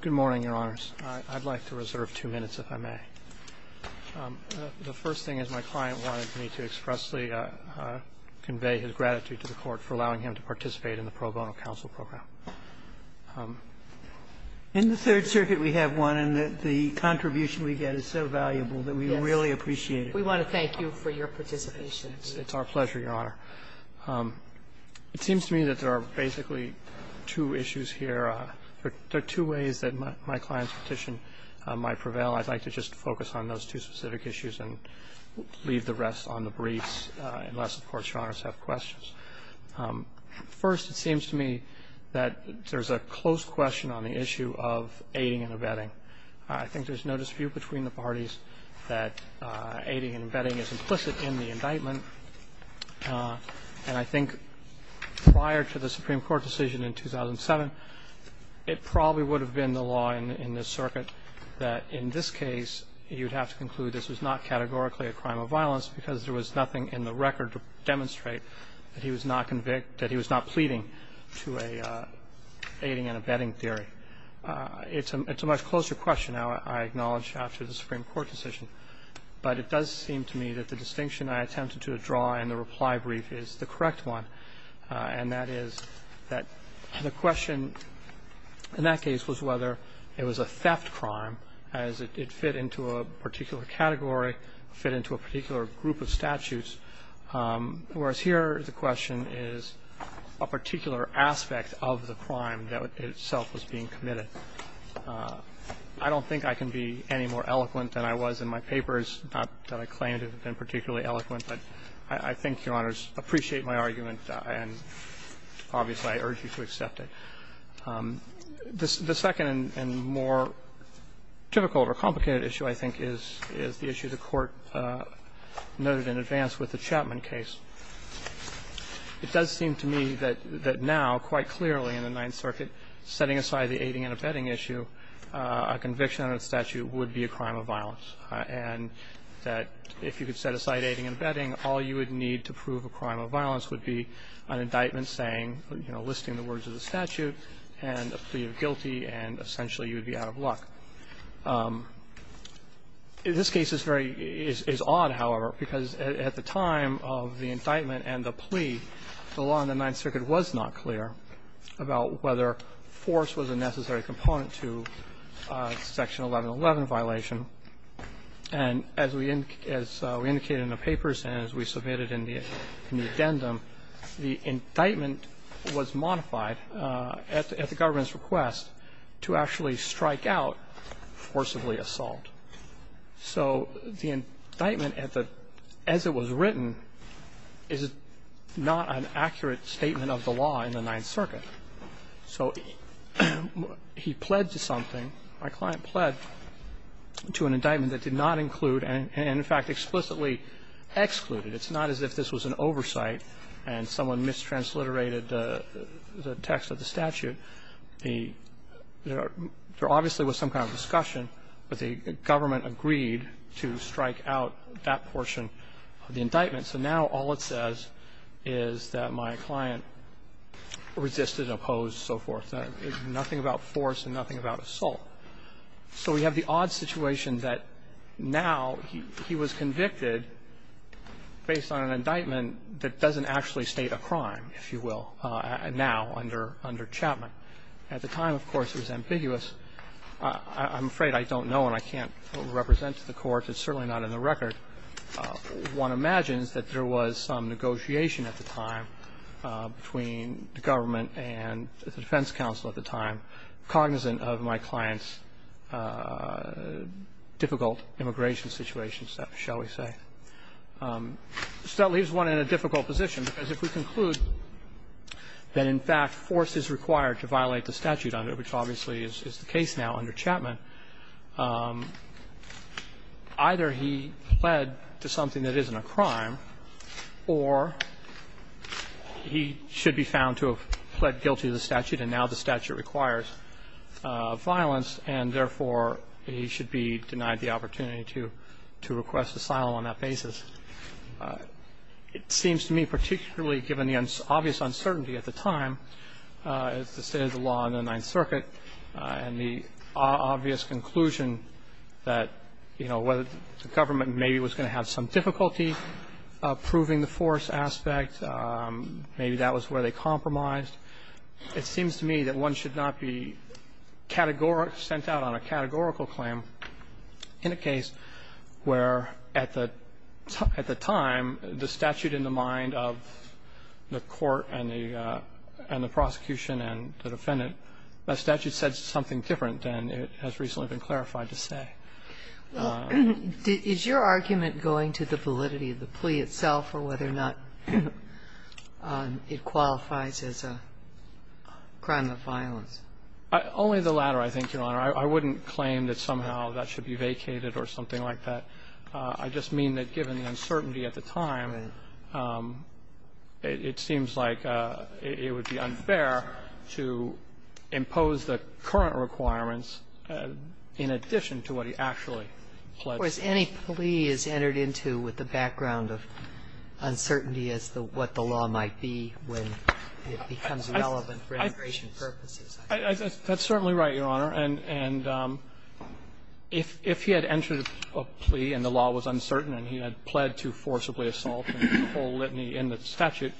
Good morning, Your Honors. I'd like to reserve two minutes, if I may. The first thing is, my client wanted me to expressly convey his gratitude to the Court for allowing him to participate in the pro bono counsel program. In the Third Circuit, we have one, and the contribution we get is so valuable that we really appreciate it. We want to thank you for your participation. It's our pleasure, Your Honor. It seems to me that there are basically two issues here. There are two ways that my client's petition might prevail. I'd like to just focus on those two specific issues and leave the rest on the briefs, unless, of course, Your Honors have questions. First, it seems to me that there's a close question on the issue of aiding and abetting. I think there's no dispute between the parties that aiding and abetting is implicit in the indictment. And I think prior to the Supreme Court decision in 2007, it probably would have been the law in this Circuit that in this case, you'd have to conclude this was not categorically a crime of violence because there was nothing in the record to demonstrate that he was not convict to aiding and abetting theory. It's a much closer question, I acknowledge, after the Supreme Court decision. But it does seem to me that the distinction I attempted to draw in the reply brief is the correct one, and that is that the question in that case was whether it was a theft crime as it fit into a particular category, fit into a particular group of statutes. Whereas here the question is a particular aspect of the crime that itself was being committed. I don't think I can be any more eloquent than I was in my papers, not that I claim to have been particularly eloquent, but I think Your Honors appreciate my argument, and obviously I urge you to accept it. The second and more typical or complicated issue, I think, is the issue the Court noted in advance with the Chapman case. It does seem to me that now, quite clearly in the Ninth Circuit, setting aside the aiding and abetting issue, a conviction under the statute would be a crime of violence, and that if you could set aside aiding and abetting, all you would need to prove a crime of violence would be an indictment saying, you know, listing the words of the statute and a plea of guilty, and essentially you would be out of luck. This case is very odd, however, because at the time of the indictment and the plea, the law in the Ninth Circuit was not clear about whether force was a necessary component to Section 1111 violation. And as we indicated in the papers and as we submitted in the addendum, the indictment was modified at the government's request to actually strike out forcibly assault. So the indictment, as it was written, is not an accurate statement of the law in the Ninth Circuit. So he pled to something, my client pled to an indictment that did not include and, in fact, explicitly excluded. It's not as if this was an oversight and someone mistransliterated the text of the statute. There obviously was some kind of discussion, but the government agreed to strike out that portion of the indictment. So now all it says is that my client resisted and opposed and so forth. There's nothing about force and nothing about assault. So we have the odd situation that now he was convicted based on an indictment that doesn't actually state a crime, if you will, now under Chapman. At the time, of course, it was ambiguous. I'm afraid I don't know and I can't represent to the Court. It's certainly not in the record. One imagines that there was some negotiation at the time between the government and the defense counsel at the time, cognizant of my client's difficult immigration situation, shall we say. So that leaves one in a difficult position, because if we conclude that, in fact, force is required to violate the statute under it, which obviously is the case now under Chapman, either he pled to something that isn't a crime or he should be found to have pled guilty to the statute, and now the statute requires violence, and therefore he should be denied the opportunity to request asylum on that basis. It seems to me, particularly given the obvious uncertainty at the time, the state of the law in the Ninth Circuit and the obvious conclusion that, you know, whether the government maybe was going to have some difficulty proving the force aspect, maybe that was where they compromised. It seems to me that one should not be sent out on a categorical claim in a case where at the time, the statute in the mind of the court and the prosecution and the defendant, the statute said something different than it has recently been clarified to say. Is your argument going to the validity of the plea itself or whether or not it qualifies as a crime of violence? Only the latter, I think, Your Honor. I wouldn't claim that somehow that should be vacated or something like that. I just mean that given the uncertainty at the time, it seems like it would be unfair to impose the current requirements in addition to what he actually pledged. Or as any plea is entered into with the background of uncertainty as to what the law might be when it becomes relevant for immigration purposes. That's certainly right, Your Honor. And if he had entered a plea and the law was uncertain and he had pled to forcibly assault and withhold litany in the statute,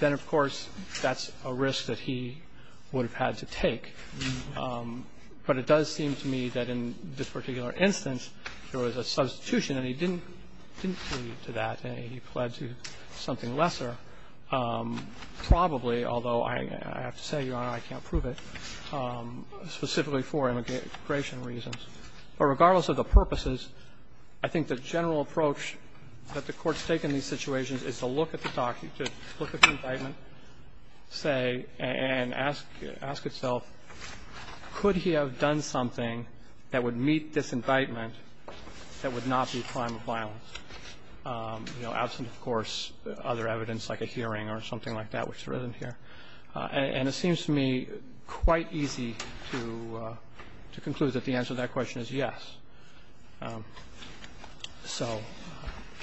then, of course, that's a risk that he would have had to take. But it does seem to me that in this particular instance, there was a substitution and he didn't plead to that and he pled to something lesser, probably, although I have to say, Your Honor, I can't prove it, specifically for immigration reasons. But regardless of the purposes, I think the general approach that the Court's taken in these situations is to look at the indictment, say, and ask itself, could he have done something that would meet this indictment that would not be a crime of violence, you know, absent, of course, other evidence like a hearing or something like that, which there isn't here. And it seems to me quite easy to conclude that the answer to that question is yes. So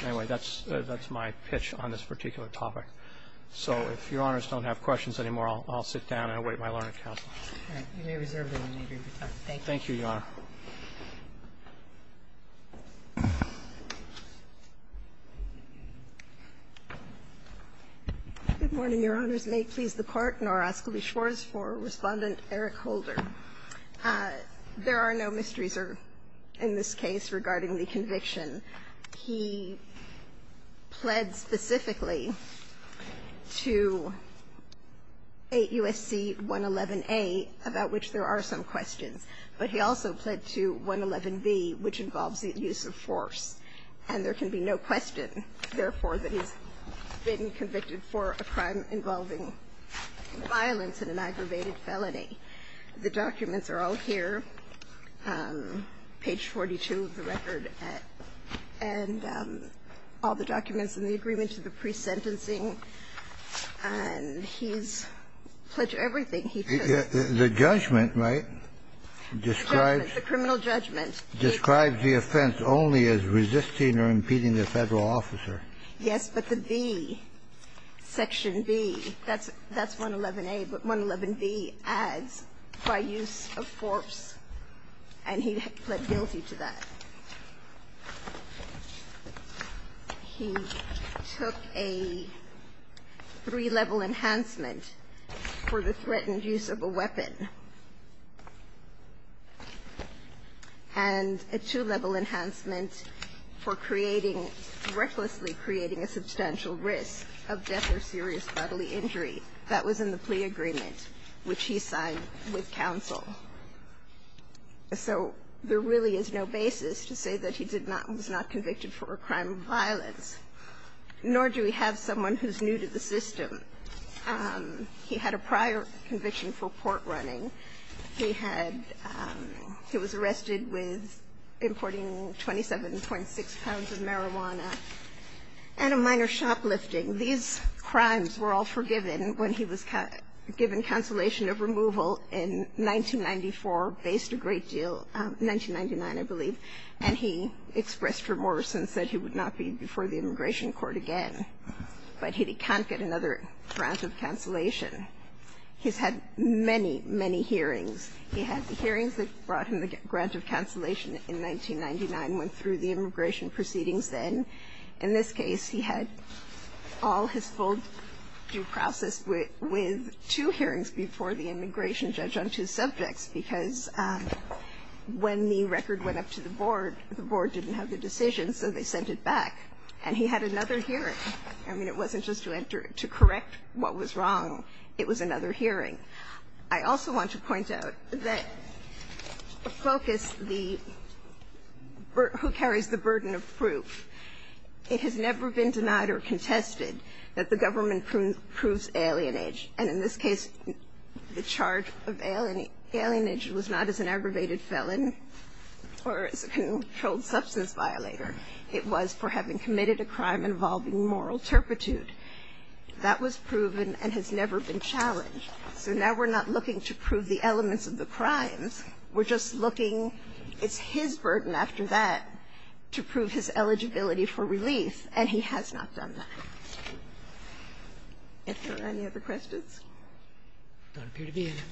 anyway, that's my pitch on this particular topic. So if Your Honors don't have questions anymore, I'll sit down and await my learning counsel. All right. You may reserve the remainder of your time. Thank you. Thank you, Your Honor. Good morning, Your Honors. May it please the Court, nor ask that we shores for Respondent Eric Holder. There are no mysteries in this case regarding the conviction. He pled specifically to 8 U.S.C. 111a, about which there are some questions. But he also pled to 111b, which involves the use of force. And there can be no question, therefore, that he's been convicted for a crime involving violence and an aggravated felony. The documents are all here, page 42 of the record, and all the documents in the agreement to the pre-sentencing. And he's pledged everything he could. The judgment, right, describes the offense only as resisting or impeding the Federal officer. Yes, but the B, section B, that's 111a, but 111b adds by use of force, and he pled guilty to that. He took a three-level enhancement for the threatened use of a weapon, and a two-level enhancement for creating, recklessly creating a substantial risk of death or serious bodily injury. That was in the plea agreement, which he signed with counsel. So there really is no basis to say that he did not, was not convicted for a crime of violence. Nor do we have someone who's new to the system. He had a prior conviction for port running. He had, he was arrested with importing 27.6 pounds of marijuana and a minor shoplifting. These crimes were all forgiven when he was given cancellation of removal in 1994, faced a great deal, 1999, I believe, and he expressed remorse and said he would not be before the immigration court again. But he can't get another grant of cancellation. He's had many, many hearings. He had the hearings that brought him the grant of cancellation in 1999, went through the immigration proceedings then. In this case, he had all his full due process with two hearings before the immigration judge on two subjects, because when the record went up to the board, the board didn't have the decision, so they sent it back. And he had another hearing. I mean, it wasn't just to enter, to correct what was wrong. It was another hearing. I also want to point out that the focus, the, who carries the burden of proof, it has never been denied or contested that the government proves alienage. And in this case, the charge of alienage was not as an aggravated felon or as a controlled substance violator. It was for having committed a crime involving moral turpitude. That was proven and has never been challenged. So now we're not looking to prove the elements of the crimes. We're just looking, it's his burden after that to prove his eligibility for relief. And he has not done that. Are there any other questions?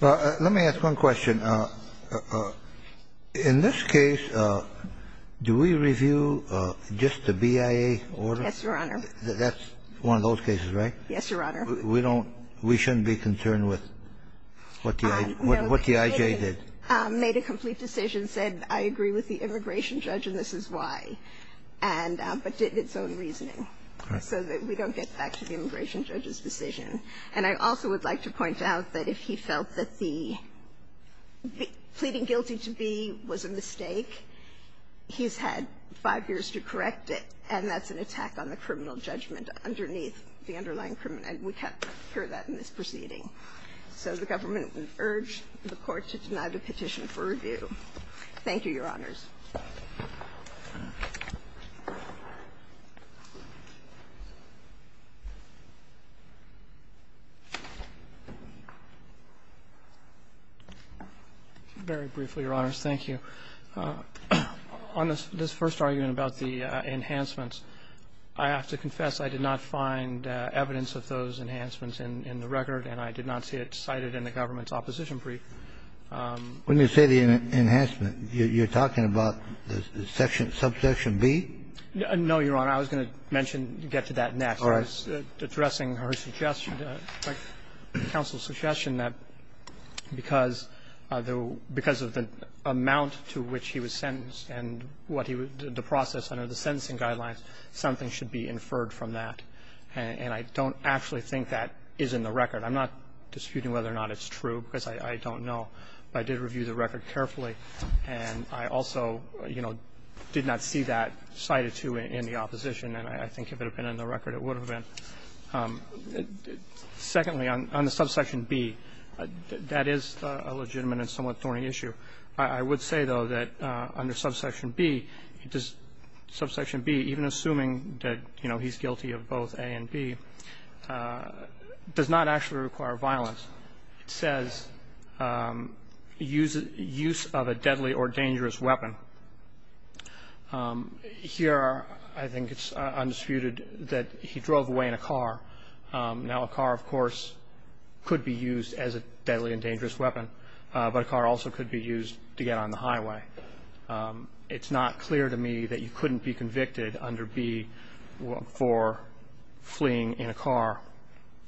Let me ask one question. In this case, do we review just the BIA order? Yes, Your Honor. That's one of those cases, right? Yes, Your Honor. We don't, we shouldn't be concerned with what the IJ did. Made a complete decision, said I agree with the immigration judge and this is why. And, but did its own reasoning. Right. So that we don't get back to the immigration judge's decision. And I also would like to point out that if he felt that the pleading guilty to B was a mistake, he's had five years to correct it, and that's an attack on the criminal judgment underneath the underlying criminal. And we hear that in this proceeding. So the government would urge the Court to deny the petition for review. Thank you, Your Honors. Very briefly, Your Honors. Thank you. On this first argument about the enhancements, I have to confess I did not find evidence of those enhancements in the record, and I did not see it cited in the government's opposition brief. When you say the enhancement, you're talking about the section, subsection B? No, Your Honor. I was going to mention, get to that next. All right. Addressing her suggestion, counsel's suggestion that because of the amount to which he was sentenced and the process under the sentencing guidelines, something should be inferred from that. And I don't actually think that is in the record. I'm not disputing whether or not it's true, because I don't know. But I did review the record carefully, and I also, you know, did not see that cited to in the opposition. And I think if it had been in the record, it would have been. Secondly, on the subsection B, that is a legitimate and somewhat thorny issue. I would say, though, that under subsection B, does subsection B, even assuming that, you know, he's guilty of both A and B, does not actually require violence. It says use of a deadly or dangerous weapon. Here, I think it's undisputed that he drove away in a car. Now, a car, of course, could be used as a deadly and dangerous weapon, but a car also could be used to get on the highway. It's not clear to me that you couldn't be convicted under B for fleeing in a car.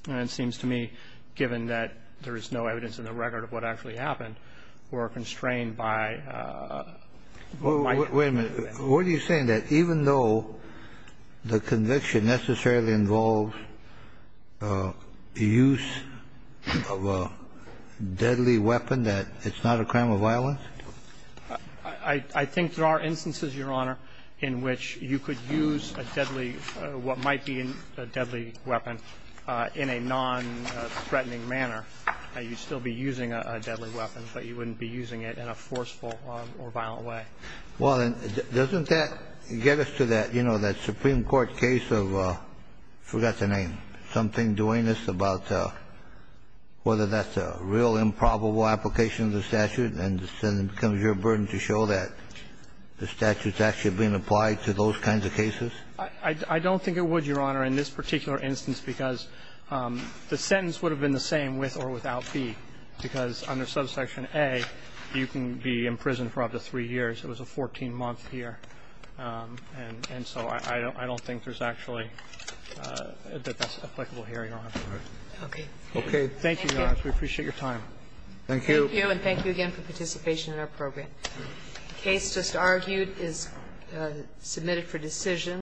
And it seems to me, given that there is no evidence in the record of what actually happened, we're constrained by the likelihood of that. Kennedy, what are you saying, that even though the conviction necessarily involves the use of a deadly weapon, that it's not a crime of violence? I think there are instances, Your Honor, in which you could use a deadly or what might be a deadly weapon in a nonthreatening manner. You'd still be using a deadly weapon, but you wouldn't be using it in a forceful or violent way. Well, then, doesn't that get us to that, you know, that Supreme Court case of, I forgot the name, something doing this about whether that's a real improbable application of the statute, and then it becomes your burden to show that the statute's actually being applied to those kinds of cases? I don't think it would, Your Honor, in this particular instance, because the sentence would have been the same with or without B, because under Subsection A, you can be subject to a penalty in the same way that you would be subject to a penalty under Subsection B. So I don't think that that's applicable here, Your Honor. Okay. Thank you, Your Honor. We appreciate your time. Thank you. Thank you. And thank you again for participation in our program. The case just argued is submitted for decision.